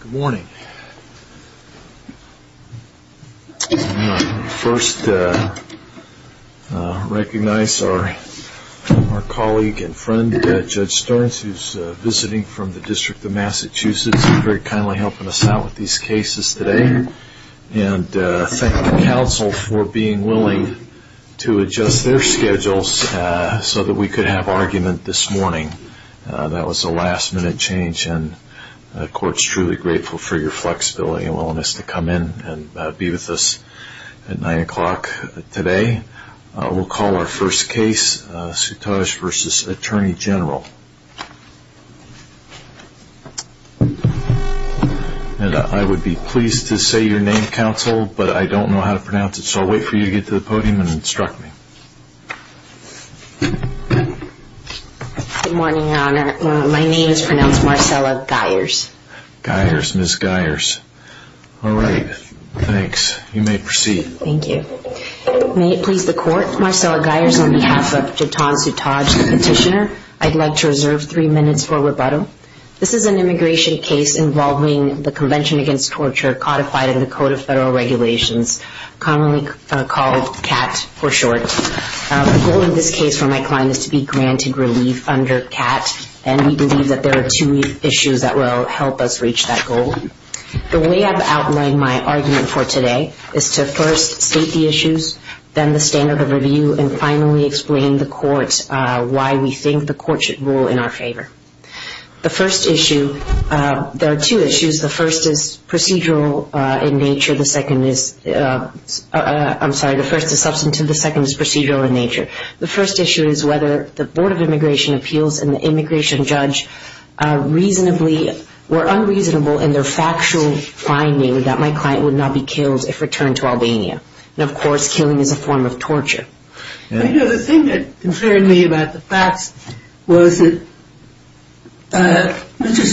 Good morning. I want to first recognize our colleague and friend, Judge Stearns, who is visiting from the District of Massachusetts and very kindly helping us out with these cases today. And thank the Council for being willing to adjust their schedules so that we could have argument this morning. That was a last minute change and the Court is truly grateful for your flexibility and willingness to come in and be with us at 9 o'clock today. We'll call our first case, Sutaj v. Attorney General. And I would be pleased to say your name, Counsel, but I don't know how to pronounce it, so I'll wait for you to get to the podium and instruct me. Good morning, Your Honor. My name is pronounced Marcella Geyers. Geyers, Ms. Geyers. All right. Thanks. You may proceed. Thank you. May it please the Court, Marcella Geyers, on behalf of Jeton Sutaj, the Petitioner, I'd like to reserve three minutes for rebuttal. This is an immigration case involving the Convention Against Torture codified in the Act, for short. The goal of this case for my client is to be granted relief under CAT, and we believe that there are two issues that will help us reach that goal. The way I've outlined my argument for today is to first state the issues, then the standard of review, and finally explain to the Court why we think the Court should rule in our favor. The first issue, there are two issues. The first is procedural in nature. The second is, I'm sorry, the first is substantive, the second is procedural in nature. The first issue is whether the Board of Immigration Appeals and the immigration judge reasonably were unreasonable in their factual finding that my client would not be killed if returned to Albania. And, of course, killing is a form of torture. You know, the thing that concerned me about the facts was that Mr.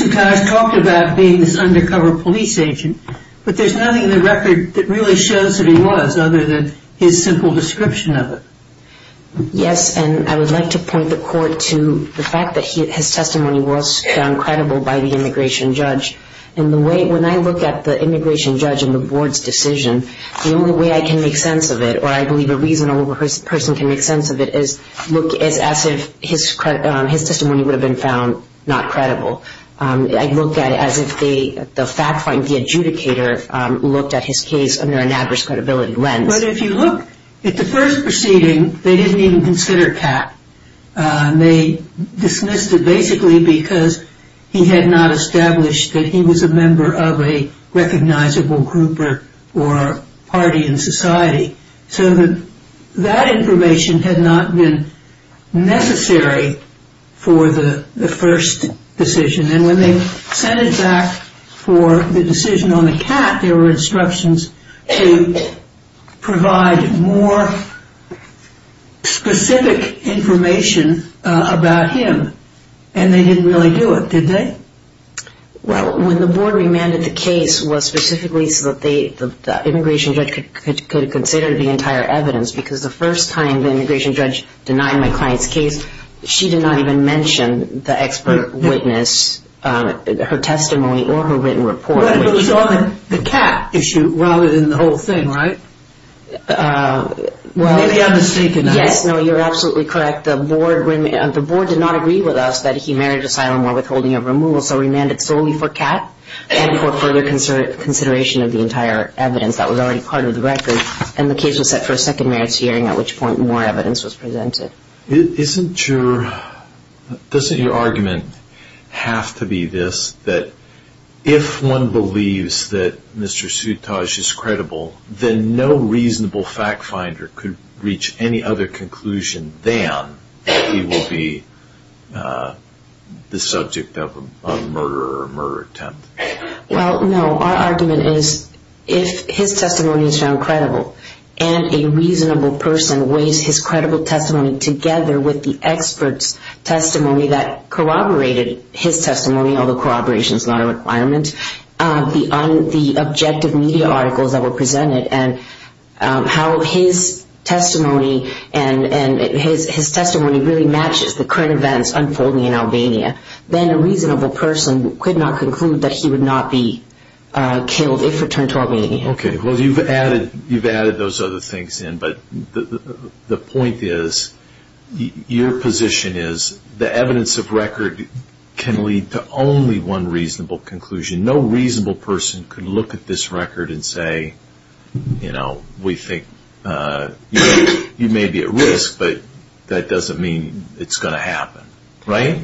Sutaj talked about being this undercover police agent, but there's nothing in the record that really shows that he was, other than his simple description of it. Yes, and I would like to point the Court to the fact that his testimony was found credible by the immigration judge. And the way, when I look at the immigration judge and the Board's decision, the only way I can make sense of it, or I believe a reasonable person can make sense of it, is look as if his testimony would have been found not credible. I'd look at it as if the fact finder, the adjudicator, looked at his case under an adverse credibility lens. But if you look at the first proceeding, they didn't even consider Kat. They dismissed it basically because he had not established that he was a member of a recognizable group or party in society. So that information had not been necessary for the first decision. And when they sent it back for the decision on the Kat, there were instructions to provide more specific information about him. And they didn't really do it, did they? Well, when the Board remanded the case, it was specifically so that the immigration judge could consider the entire evidence. Because the first time the immigration judge denied my client's case, she did not even mention the expert witness, her testimony, or her written report. But it was on the Kat issue rather than the whole thing, right? Well, yes, no, you're absolutely correct. The Board did not agree with us that he married asylum or withholding of removal, so remanded solely for Kat and for further consideration of the entire evidence that was already part of the record. And the case was set for a Isn't your...doesn't your argument have to be this, that if one believes that Mr. Sutaj is credible, then no reasonable fact finder could reach any other conclusion than he will be the subject of a murder or a murder attempt? Well, no, our argument is if his testimony is found credible, and a reasonable person weighs his credible testimony together with the expert's testimony that corroborated his testimony, although corroboration is not a requirement, the objective media articles that were presented, and how his testimony really matches the current events unfolding in Albania, then a reasonable person could not conclude that he would not be killed if returned to Albania. Okay, well, you've added those other things in, but the point is, your position is the evidence of record can lead to only one reasonable conclusion. No reasonable person could look at this record and say, you know, we think you may be at risk, but that doesn't mean it's going to happen, right?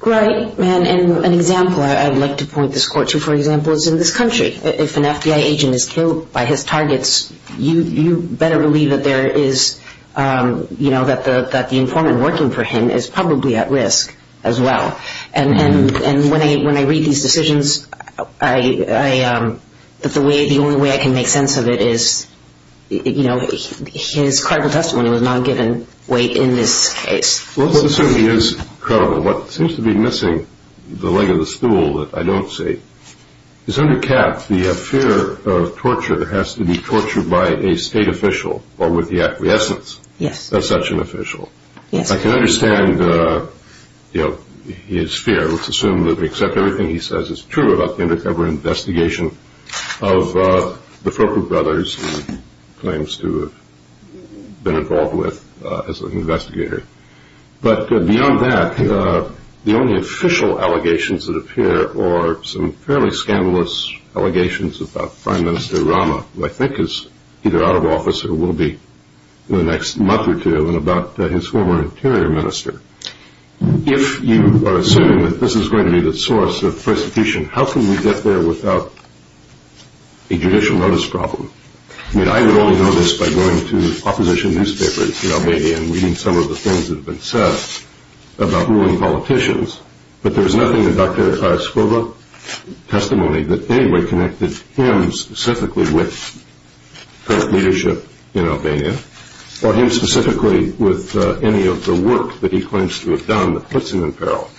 Right, and an example I'd like to point this court to, for example, is in this country. If an FBI agent is killed by his targets, you better believe that there is, you know, that the informant working for him is probably at risk as well. And when I read these decisions, the only way I can make sense of it is, you know, his credible testimony was not given weight in this case. Well, it certainly is credible. What seems to be missing, the leg of the stool that I have is the fear of torture that has to be tortured by a state official or with the acquiescence of such an official. I can understand, you know, his fear. Let's assume that we accept everything he says is true about the undercover investigation of the Fokker brothers he claims to have been involved with as an investigator. But beyond that, the only official allegations that appear are some fairly scandalous allegations about Prime Minister Rama, who I think is either out of office or will be in the next month or two, and about his former interior minister. If you assume that this is going to be the source of persecution, how can we get there without a judicial notice problem? I mean, I would only know this by going to opposition newspapers in Albania and reading some of the things that have been said about ruling politicians, but there's nothing in Dr. Skroga's testimony that in any way connected him specifically with leadership in Albania, or him specifically with any of the work that he claims to have done that puts him in peril.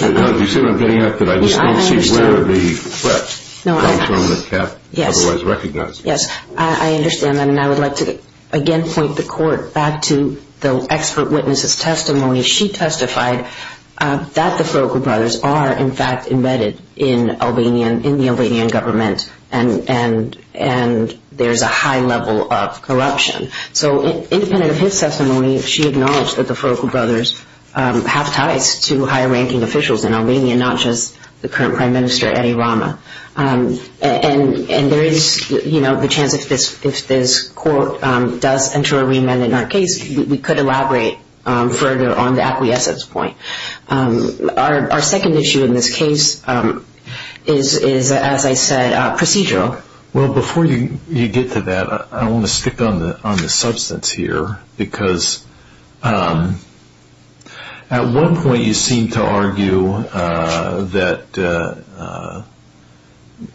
Now, do you see what I'm getting at? That I just don't see where the threat comes from that Kat otherwise recognized. Yes, I understand that, and I would like to again point the Court back to the expert witness's testimony, who testified that the Froko brothers are in fact embedded in Albanian, in the Albanian government, and there's a high level of corruption. So independent of his testimony, she acknowledged that the Froko brothers have ties to higher ranking officials in Albania, not just the current Prime Minister, Eddie Rama. And there is, you know, the chance if this Court does enter a remand in our case, we could elaborate further on the acquiescence point. Our second issue in this case is, as I said, procedural. Well, before you get to that, I want to stick on the substance here, because at one point you seem to argue that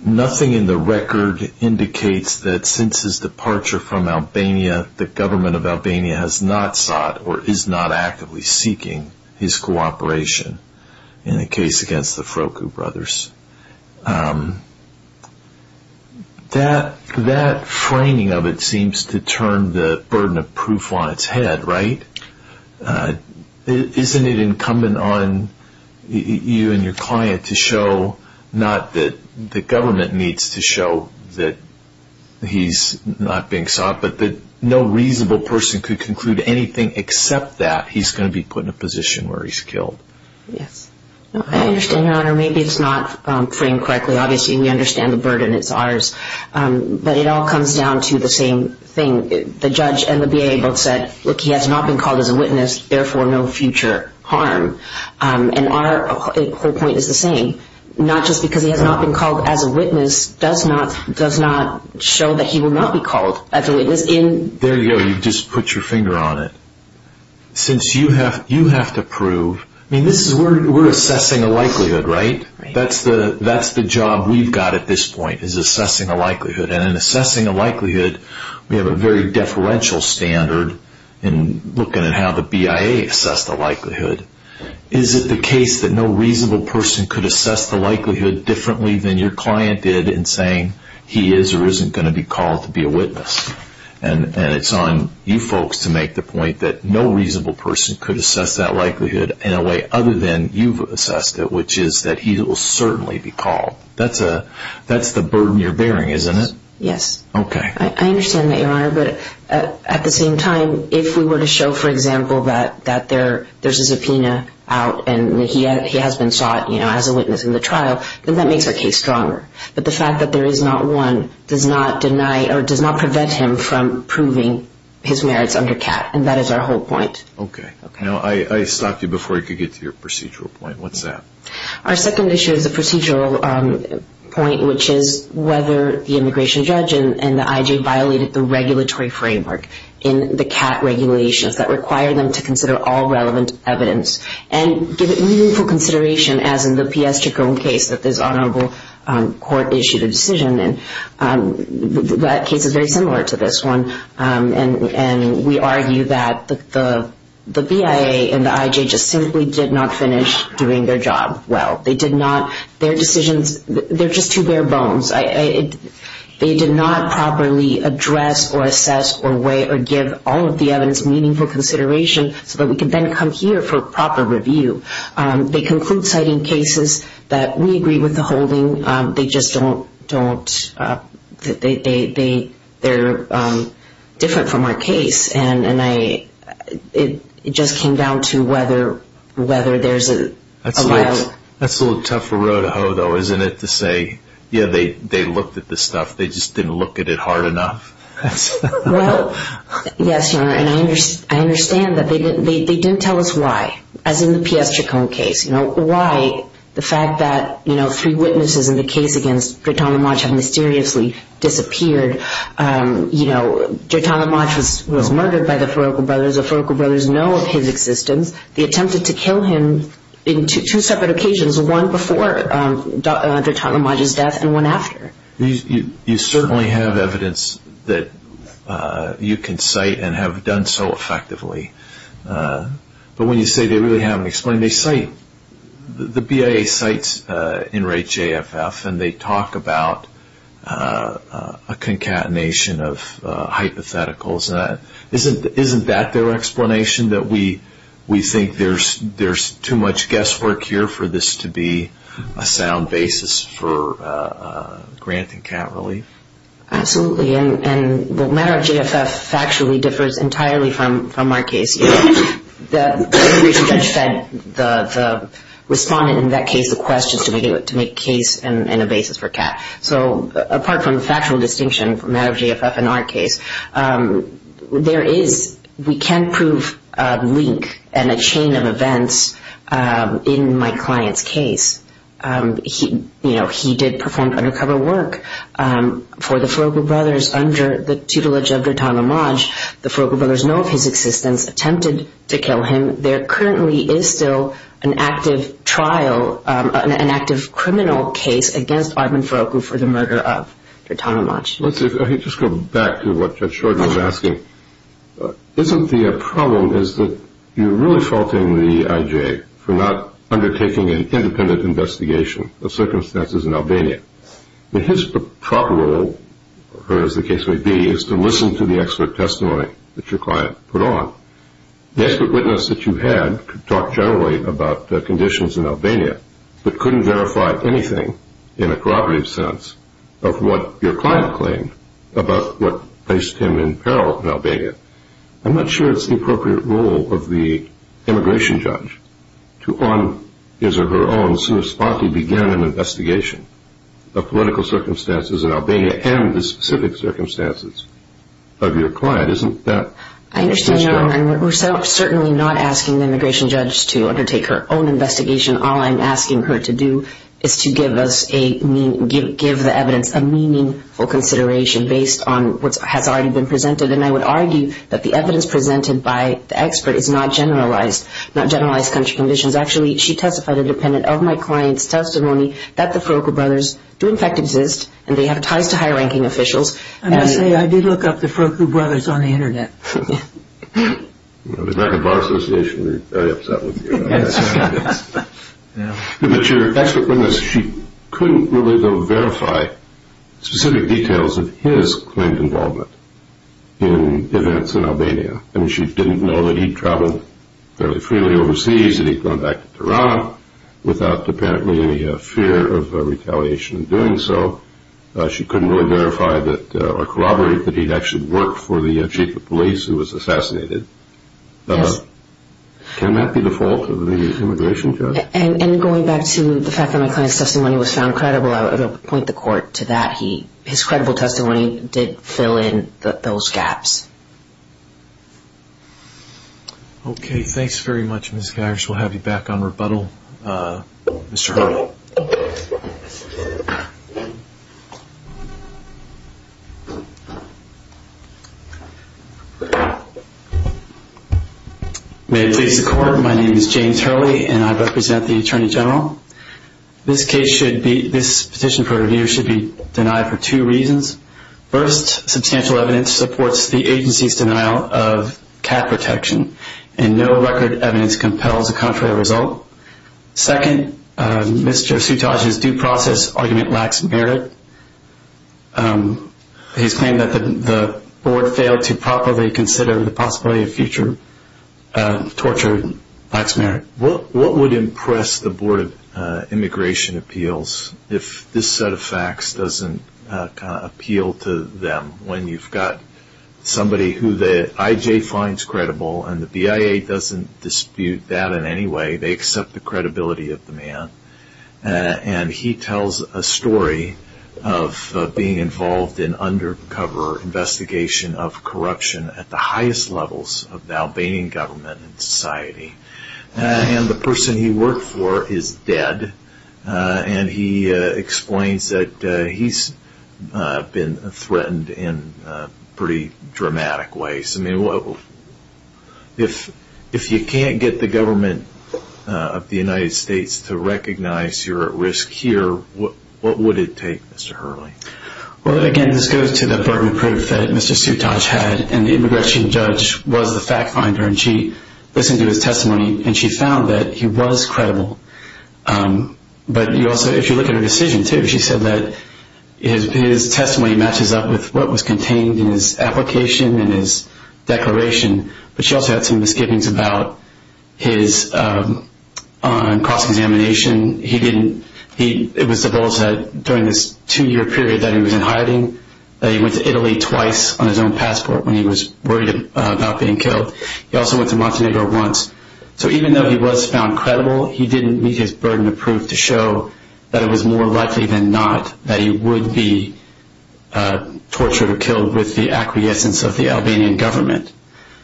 nothing in the record indicates that since his departure from Albania, the government of Albania has not sought or is not actively seeking his cooperation in the case against the Froko brothers. That framing of it seems to turn the burden of proof on its head, right? Isn't it incumbent on you and your client to show, not that the government needs to show, that he's not being sought, but that no reasonable person could conclude anything except that he's going to be put in a position where he's killed? Yes. I understand, Your Honor. Maybe it's not framed correctly. Obviously, we understand the burden. It's ours. But it all comes down to the same thing. The judge and the BIA both said, look, he has not been called as a witness, therefore no future harm. And our whole point is the same. Not just because he has not been called as a witness does not show that he will not be called as a witness. There you go. You've just put your finger on it. Since you have to prove, I mean, we're assessing a likelihood, right? That's the job we've got at this point, is assessing a likelihood. And in assessing a likelihood, we have a very deferential standard in looking at how the BIA assessed the likelihood. Is it the case that no reasonable person could assess the likelihood differently than your client did in saying he is or isn't going to be called to be a witness? And it's on you folks to make the point that no reasonable person could assess that likelihood in a way other than you've assessed it, which is that he will certainly be called. That's the burden you're bearing, isn't it? Yes. Okay. I understand that, Your Honor. But at the same time, if we were to show, for example, that there's a subpoena out and he has been sought as a witness in the trial, then that makes our case stronger. But the fact that there is not one does not prevent him from proving his merits under CAT, and that is our whole point. Okay. Now, I stopped you before you could get to your procedural point. What's that? Our second issue is a procedural point, which is whether the immigration judge and the IJ violated the regulatory framework in the CAT regulations that require them to consider all the evidence. And as in the P.S. Chikung case, that this honorable court issued a decision, and that case is very similar to this one. And we argue that the BIA and the IJ just simply did not finish doing their job well. They did not, their decisions, they're just two bare bones. They did not properly address or assess or weigh or give all of the evidence meaningful consideration so that we could then come here for proper review. They conclude, citing cases, that we agree with the holding. They just don't, they're different from our case. And I, it just came down to whether there's a violation. That's a little tough for Rodejo though, isn't it, to say, yeah, they looked at this stuff. They just didn't look at it hard enough. Well, yes, Your Honor. And I understand that they didn't tell us why, as in the P.S. Chikung case, you know, why the fact that, you know, three witnesses in the case against Dritana Maj have mysteriously disappeared. You know, Dritana Maj was murdered by the Faroqo brothers. The Faroqo brothers know of his existence. They attempted to kill him in two separate occasions, one before Dritana Maj's death and one after. You certainly have evidence that you can cite and have done so effectively. But when you say they really haven't explained, they cite, the BIA cites NREJ-JFF and they talk about a concatenation of hypotheticals. Isn't that their explanation, that we think there's too much guesswork here for this to be a sound basis for grant and cat relief? Absolutely. And the matter of JFF factually differs entirely from our case. The reason Judge Fedt, the respondent in that case, requested to make a case and a basis for cat. So apart from link and a chain of events in my client's case, you know, he did perform undercover work for the Faroqo brothers under the tutelage of Dritana Maj. The Faroqo brothers know of his existence, attempted to kill him. There currently is still an active trial, an active criminal case against Armin Faroqo for the murder of Dritana Maj. Let's just go back to what Judge Shorten was asking. Isn't the problem is that you're really faulting the IJ for not undertaking an independent investigation of circumstances in Albania. His proper role, or as the case may be, is to listen to the expert testimony that your client put on. The expert witness that you had talked generally about the conditions in Albania, but couldn't verify anything in a corroborative sense of what your client claimed about what placed him in peril in Albania. I'm not sure it's the appropriate role of the immigration judge to, on his or her own, so spotty begin an investigation of political circumstances in Albania and the specific circumstances of your client. Isn't that... I understand, Your Honor, and we're certainly not asking the immigration judge to undertake her own investigation. All I'm asking her to do is to give us a give the evidence a meaningful consideration based on what has already been presented, and I would argue that the evidence presented by the expert is not generalized, not generalized country conditions. Actually, she testified independent of my client's testimony that the Faroqo brothers do in fact exist, and they have ties to higher ranking officials. I must say, I did look up the Faroqo brothers on the internet. If it's not the Bar Association, we're very upset with you. Yes. But your expert witness, she couldn't really, though, verify specific details of his claimed involvement in events in Albania. I mean, she didn't know that he'd traveled fairly freely overseas, that he'd gone back to Tehran without apparently any fear of retaliation in doing so. She couldn't really verify that or corroborate that he'd actually worked for the police who was assassinated. Yes. Can that be the fault of the immigration judge? And going back to the fact that my client's testimony was found credible, I would point the court to that. His credible testimony did fill in those gaps. Okay, thanks very much, Ms. Geyers. We'll have you back on rebuttal, Mr. Hurley. May it please the court, my name is James Hurley, and I represent the Attorney General. This case should be, this petition for review should be denied for two reasons. First, substantial evidence supports the agency's denial of cat protection, and no record evidence compels a contrary result. Second, Mr. Sutaj's due process argument lacks merit. He's claimed that the board failed to properly consider the possibility of future torture, lacks merit. What would impress the Board of Immigration Appeals if this set of facts doesn't appeal to them, when you've got somebody who the IJ finds credible, and the BIA doesn't dispute that in any way, they accept the credibility of the man, and he tells a story of being involved in undercover investigation of corruption at the highest levels of the Albanian government and society. And the person he worked for is dead, and he explains that he's been threatened in pretty dramatic ways. If you can't get the government of the United States to recognize you're at risk here, what would it take, Mr. Hurley? Well, again, this goes to the burden of proof that Mr. Sutaj had, and the immigration judge was the fact finder, and she listened to his testimony, and she found that he was credible. But you also, if you look at her decision too, she said that his testimony matches up with what was contained in his application and his declaration, but she also had some misgivings about his cross-examination. It was supposed that during this two-year period that he was in hiding, that he went to Italy twice on his own passport when he was worried about being killed. He also went to Montenegro once. So even though he was found credible, he didn't meet his burden of proof to show that it was more likely than not that he would be tortured or killed with the acquiescence of the Albanian government.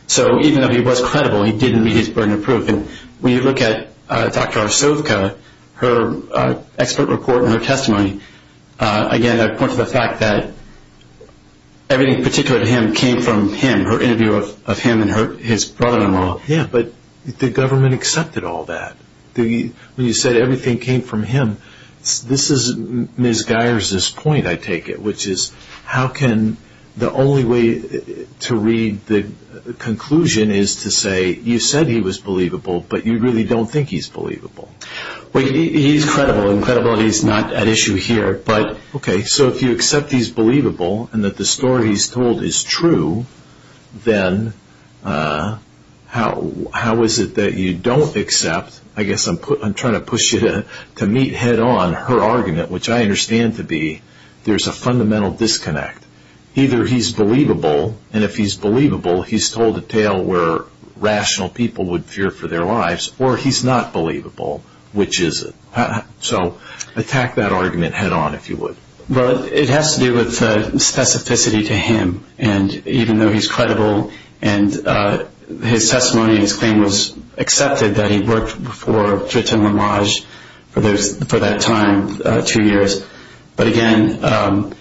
So even though he was credible, he didn't meet his burden of proof, and when you look at Dr. Arsovka, her expert report and her testimony, again, I point to the fact that everything particular to him came from him, her interview of him and his brother-in-law. Yeah, but the government accepted all that. When you said everything came from him, this is Ms. Geyer's point, I take it, which is how can the only way to read the conclusion is to say you said he was believable, but you really don't think he's believable. Well, he's credible, and credibility is not an issue here, but... Okay, so if you accept he's believable and that the story he's told is true, then how is it that you don't accept, I guess I'm trying to push you to meet head-on her argument, which I understand to be there's a fundamental disconnect. Either he's believable, and if he's believable, he's told a tale where rational people would fear for their lives, or he's not believable, which is it? So attack that argument head-on, if you would. Well, it has to do with the specificity to him, and even though he's credible, and his testimony and his claim was accepted that he worked for Triton-Lamarge for that time, two years, but again,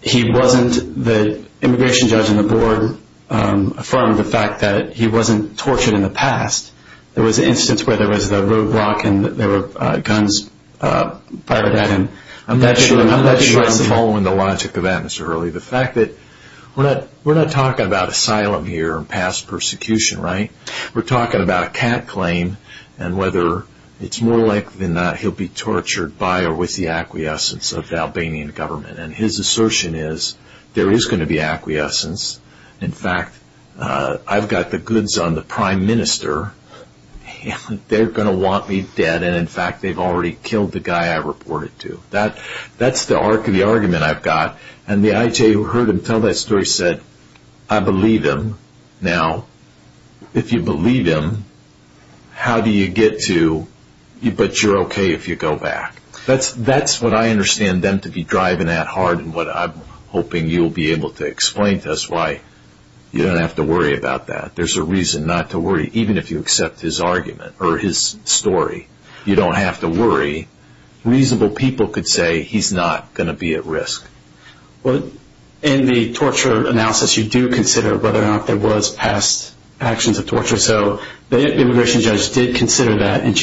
he wasn't, the immigration judge and the board affirmed the fact that he wasn't tortured in the past. There was an instance where there was the roadblock, and there were guns fired at him. I'm not sure I'm following the logic of that, the fact that we're not talking about asylum here and past persecution, right? We're talking about a cat claim, and whether it's more likely than not he'll be tortured by or with the acquiescence of the Albanian government, and his assertion is there is going to be acquiescence. In fact, I've got the goods on the prime minister, and they're going to want me dead, and in fact, they've already killed the guy I reported to. That's the argument I've got, and the IJ who heard him tell that story said, I believe him. Now, if you believe him, how do you get to, but you're okay if you go back? That's what I understand them to be driving at hard, and what I'm hoping you'll be able to explain to us why you don't have to worry about that. There's a reason not to worry, even if you accept his argument or his story. You don't have to worry. Reasonable people could say he's not going to be at risk. In the torture analysis, you do consider whether or not there was past actions of torture, so the immigration judge did consider that, and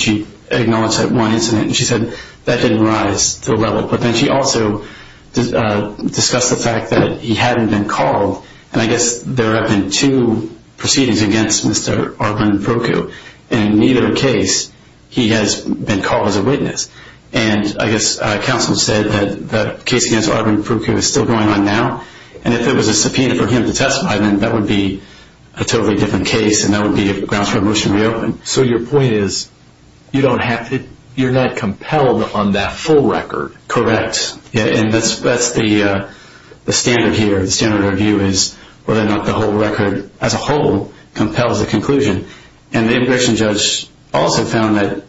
she acknowledged that one incident, and she said that didn't rise to the level, but then she also discussed the fact that he hadn't been called, and I guess there have been two proceedings against Mr. Arvin Proku, and in neither case, he has been called as a witness, and I guess counsel said that the case against Arvin Proku is still going on now, and if it was a subpoena for him to testify, then that would be a totally different case, and that would be a grounds for a motion to reopen. So your point is you don't have to, you're not compelled on that full record. Correct, and that's the standard here. The standard of review is whether or not the whole record as a whole compels the conclusion, and the immigration judge also found that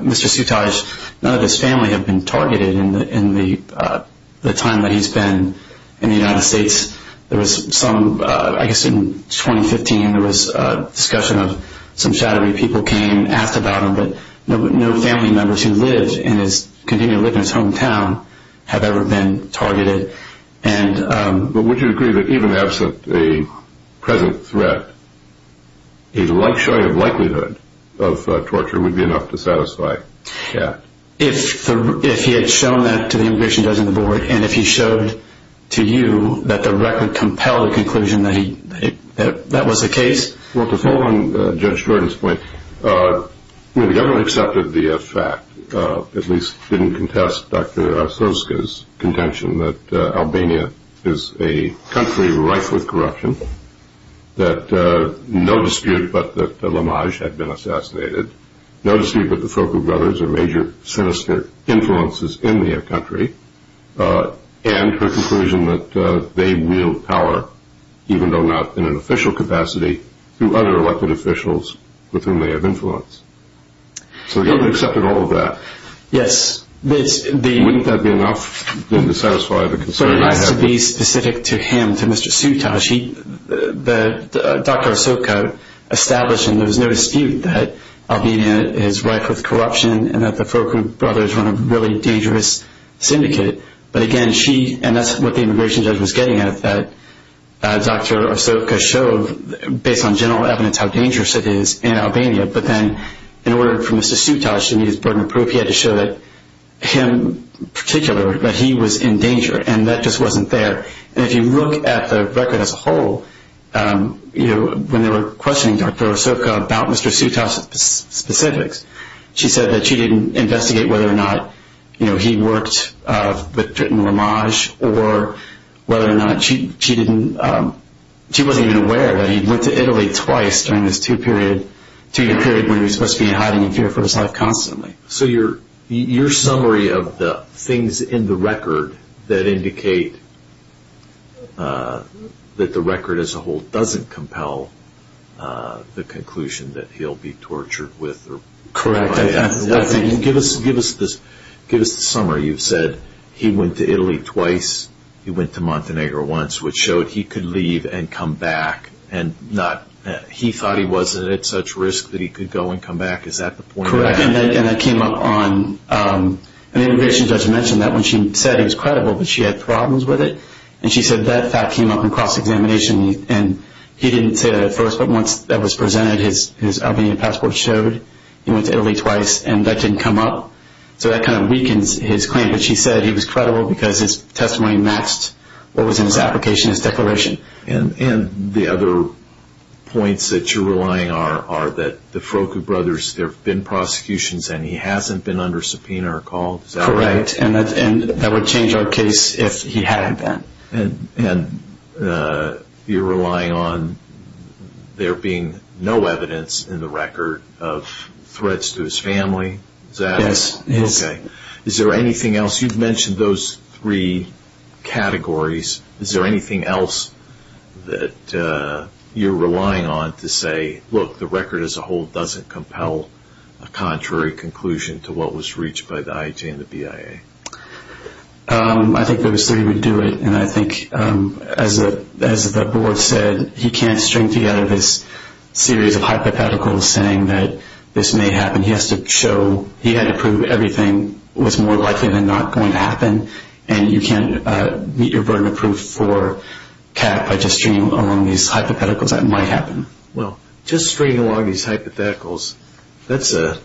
Mr. Sutaj, none of his family have been targeted in the time that he's been in the United States. There was some, I guess in 2015, there was a some shadowy people came, asked about him, but no family members who lived in his, continue to live in his hometown, have ever been targeted, and... But would you agree that even absent a present threat, a showing of likelihood of torture would be enough to satisfy that? If he had shown that to the immigration judge and the board, and if he showed to you that the record compelled the case? Well, to follow on Judge Jordan's point, the government accepted the fact, at least didn't contest Dr. Arstotzka's contention that Albania is a country rife with corruption, that no dispute but that the Lamaj had been assassinated, no dispute but the Foko brothers are major sinister influences in their country, and her conclusion that they wield power, even though not in an official capacity, through other elected officials with whom they have influence. So the government accepted all of that. Yes, the... Wouldn't that be enough, then, to satisfy the concern I have? But it has to be specific to him, to Mr. Sutaj. He, the, Dr. Arstotzka established, and there was no dispute, that Albania is rife with corruption, and that the Foko brothers run a really dangerous syndicate, but again she, and that's what the immigration judge was getting at, that Dr. Arstotzka showed, based on general evidence, how dangerous it is in Albania, but then in order for Mr. Sutaj to meet his burden of proof, he had to show that him particular, that he was in danger, and that just wasn't there. And if you look at the record as a whole, you know, when they were questioning Dr. Arstotzka about Mr. Sutaj's you know, he worked, but written homage, or whether or not she, she didn't, she wasn't even aware that he'd went to Italy twice during this two-period, two-year period when he was supposed to be hiding in fear for his life constantly. So your, your summary of the things in the record that indicate that the record as a whole doesn't compel the conclusion that he'll be tortured with, or... Give us, give us this, give us the summary. You've said he went to Italy twice, he went to Montenegro once, which showed he could leave and come back, and not, he thought he wasn't at such risk that he could go and come back. Is that the point? Correct, and that came up on, and the immigration judge mentioned that when she said he was credible, but she had problems with it, and she said that fact came up in cross-examination, and he didn't say that at first, but once that was presented, his, his Albanian passport showed he went to Italy twice, and that didn't come up, so that kind of weakens his claim, but she said he was credible because his testimony matched what was in his application, his declaration. And, and the other points that you're relying are, are that the Frocco brothers, there have been prosecutions, and he hasn't been under subpoena or called, is that right? Correct, and that, and that would change our case if he hadn't been. And, and you're relying on there being no evidence in the record of threats to his family, is that? Yes. Okay. Is there anything else, you've mentioned those three categories, is there anything else that you're relying on to say, look, the record as a whole doesn't compel a contrary conclusion to what was reached by the IJ and the BIA? I think those three would do it, and I think, as the, as the board said, he can't string together this series of hypotheticals saying that this may happen, he has to show, he had to prove everything was more likely than not going to happen, and you can't meet your burden of proof for CAP by just stringing along these hypotheticals that might happen. Well, just stringing along these hypotheticals, that's a,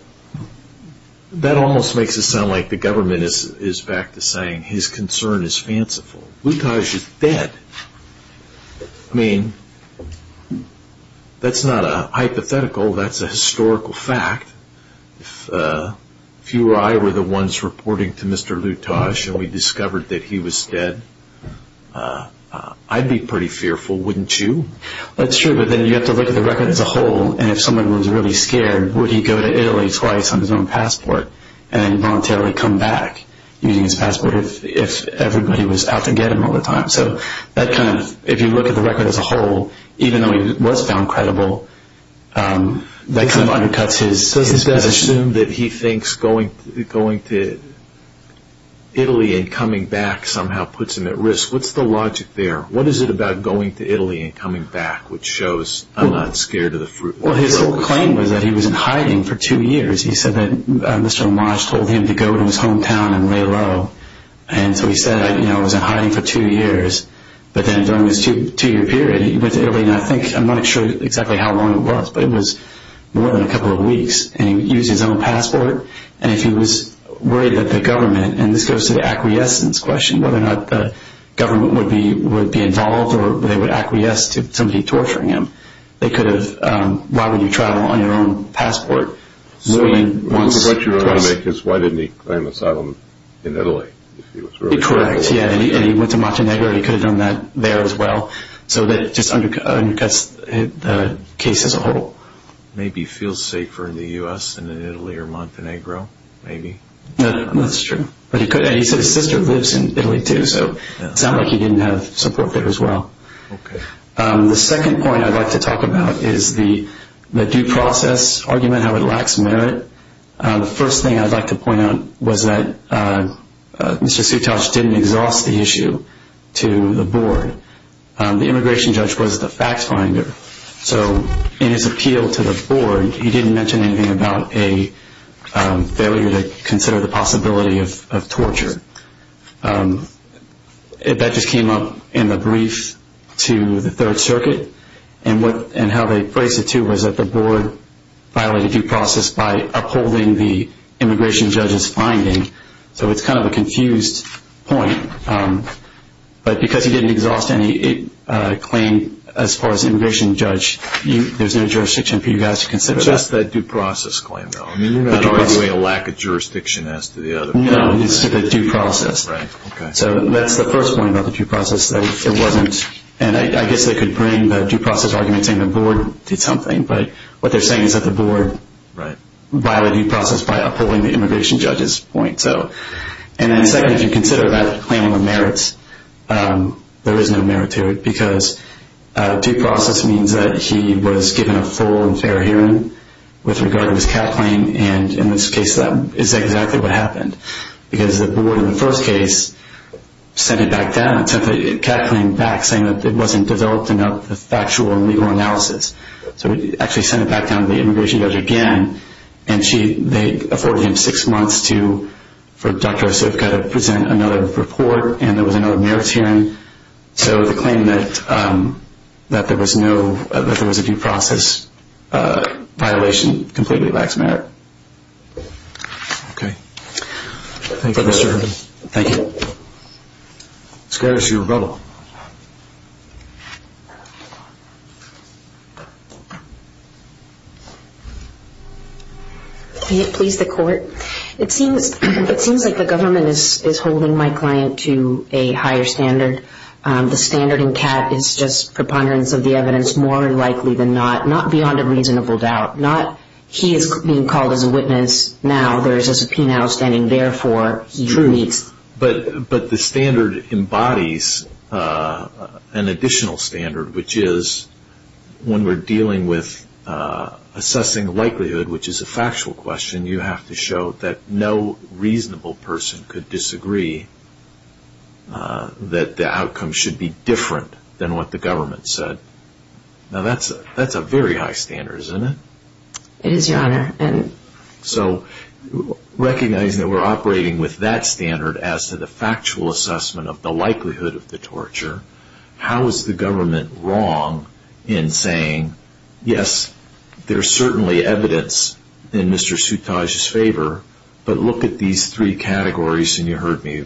that almost makes it sound like the government is, is back to saying his concern is fanciful. Lutash is dead. I mean, that's not a hypothetical, that's a historical fact. If you or I were the ones reporting to Mr. Lutash and we discovered that he was dead, I'd be pretty fearful, wouldn't you? That's true, but then you have to look at the record as a whole, and if someone was really scared, would he go to Italy twice on his own passport and voluntarily come back using his passport if, if everybody was out to get him all the time? So that kind of, if you look at the record as a whole, even though he was found credible, that kind of undercuts his... Does this guy assume that he and coming back somehow puts him at risk? What's the logic there? What is it about going to Italy and coming back, which shows I'm not scared of the fruit? Well, his whole claim was that he was in hiding for two years. He said that Mr. Lutash told him to go to his hometown and lay low, and so he said, you know, I was in hiding for two years, but then during this two, two-year period, he went to Italy, and I think, I'm not sure exactly how long it was, but it was more than a couple of weeks, and he used his own passport, and if he was worried that the acquiescence question, whether or not the government would be, would be involved, or they would acquiesce to somebody torturing him, they could have, um, why would you travel on your own passport? What you're trying to make is, why didn't he claim asylum in Italy? Correct, yeah, and he went to Montenegro. He could have done that there as well, so that just undercuts the case as a whole. Maybe feel safer in the U.S. than in Italy or Montenegro, maybe? That's true, but he could, and he said his sister lives in Italy too, so it sounds like he didn't have support there as well. Okay, um, the second point I'd like to talk about is the due process argument, how it lacks merit. The first thing I'd like to point out was that Mr. Sutash didn't exhaust the issue to the board. The immigration judge was the fact finder, so in his appeal to the board, he didn't mention anything about a failure to consider the possibility of torture. That just came up in the brief to the Third Circuit, and what, and how they phrased it too, was that the board violated due process by upholding the immigration judge's finding, so it's kind of a confused point, but because he didn't exhaust any claim as far as immigration judge, there's no jurisdiction for you guys to consider that. Just that due process claim, though. I mean, you're not arguing a lack of jurisdiction as to the other. No, it's the due process. Right, okay. So that's the first point about the due process, that it wasn't, and I guess they could bring the due process argument saying the board did something, but what they're saying is that the board violated due process by upholding the immigration judge's point, so, and then second, if you consider that claim of merits, there is no merit to it, because due process means that he was given a full and fair hearing with regard to his cap claim, and in this case, that is exactly what happened, because the board, in the first case, sent it back down, sent the cap claim back saying that it wasn't developed enough, the factual and legal analysis, so it actually sent it back down to the immigration judge again, and she, they afforded him six months to, for Dr. Osofka to present another report, and there was another merits hearing, so the claim that there was no, that there was a due process violation completely lacks merit. Okay. Thank you, Mr. Herman. Thank you. Let's go to Sue Rebello. Can it please the court? It seems, it seems like the government is holding my client to a higher standard. The standard in CAD is just preponderance of the evidence, more likely than not, not beyond a reasonable doubt, not, he is being called as a witness now, there is a subpoena standing there for his needs. True, but the standard embodies an additional standard, which is when we are dealing with assessing likelihood, which is a factual question, you have to show that no reasonable person could disagree that the outcome should be different than what the government said. Now, that's a very high standard, isn't it? It is, your honor. So, recognizing that we are operating with that standard as to the factual assessment of the likelihood of the torture, how is the government wrong in saying, yes, there is certainly evidence in Mr. Sutaj's favor, but look at these three categories, and you heard me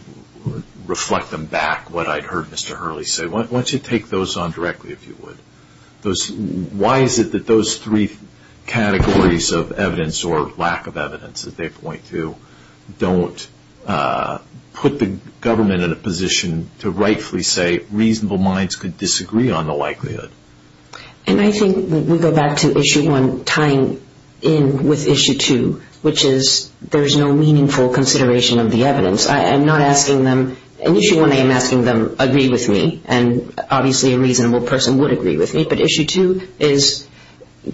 reflect them back, what I had heard Mr. Hurley say, why don't you take those on directly if you would? Why is it that those three categories of evidence or lack of evidence that they point to don't put the government in a position to rightfully say reasonable minds could disagree on the likelihood? And I think we go back to issue one, tying in with issue two, which is there is no meaningful consideration of the evidence. I am not asking them, at issue one I am asking them, agree with me, and obviously a reasonable person would agree with me, but issue two is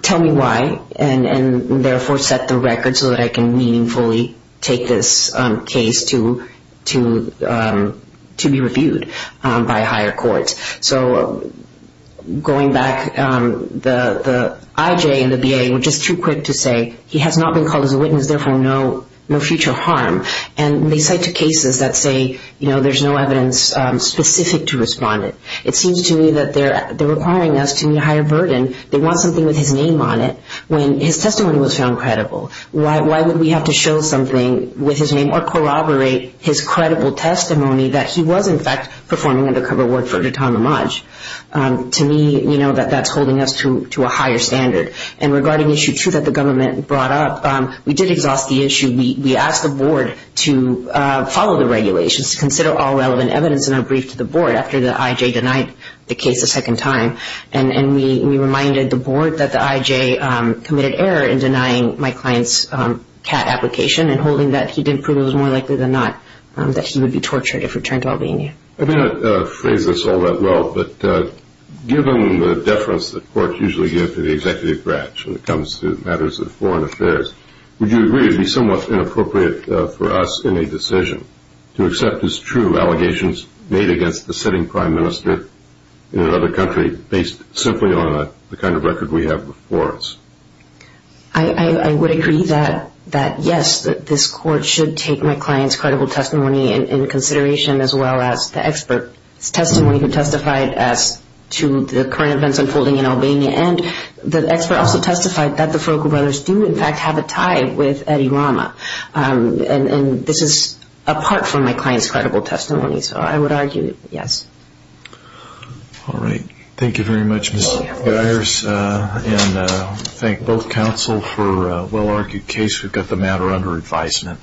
tell me why, and therefore set the record so that I can meaningfully take this case to be reviewed by a higher court. So, going back, the IJ and the BA were just too quick to say, he has not been called as a witness, therefore no future harm. And they get to cases that say there is no evidence specific to respondent. It seems to me that they are requiring us to meet a higher burden. They want something with his name on it. When his testimony was found credible, why would we have to show something with his name or corroborate his credible testimony that he was in fact performing undercover work for Datan Lamaj? To me, that is holding us to a higher standard. And regarding issue two that the government brought up, we did exhaust the issue. We asked the IJ to follow the regulations, to consider all relevant evidence in a brief to the board after the IJ denied the case a second time. And we reminded the board that the IJ committed error in denying my client's CAT application and holding that he did prove it was more likely than not that he would be tortured if returned to Albania. I did not phrase this all that well, but given the deference that courts usually give to the executive branch when it comes to matters of foreign affairs, would you somewhat inappropriate for us in a decision to accept as true allegations made against the sitting Prime Minister in another country based simply on the kind of record we have before us? I would agree that yes, this court should take my client's credible testimony in consideration as well as the expert's testimony who testified as to the current events unfolding in Albania. And the expert also testified that the Ferocco brothers do, in fact, have a tie with Eddie Rama. And this is apart from my client's credible testimony. So I would argue yes. All right. Thank you very much, Ms. Myers. And thank both counsel for a well-argued case. We've got the matter under advisement.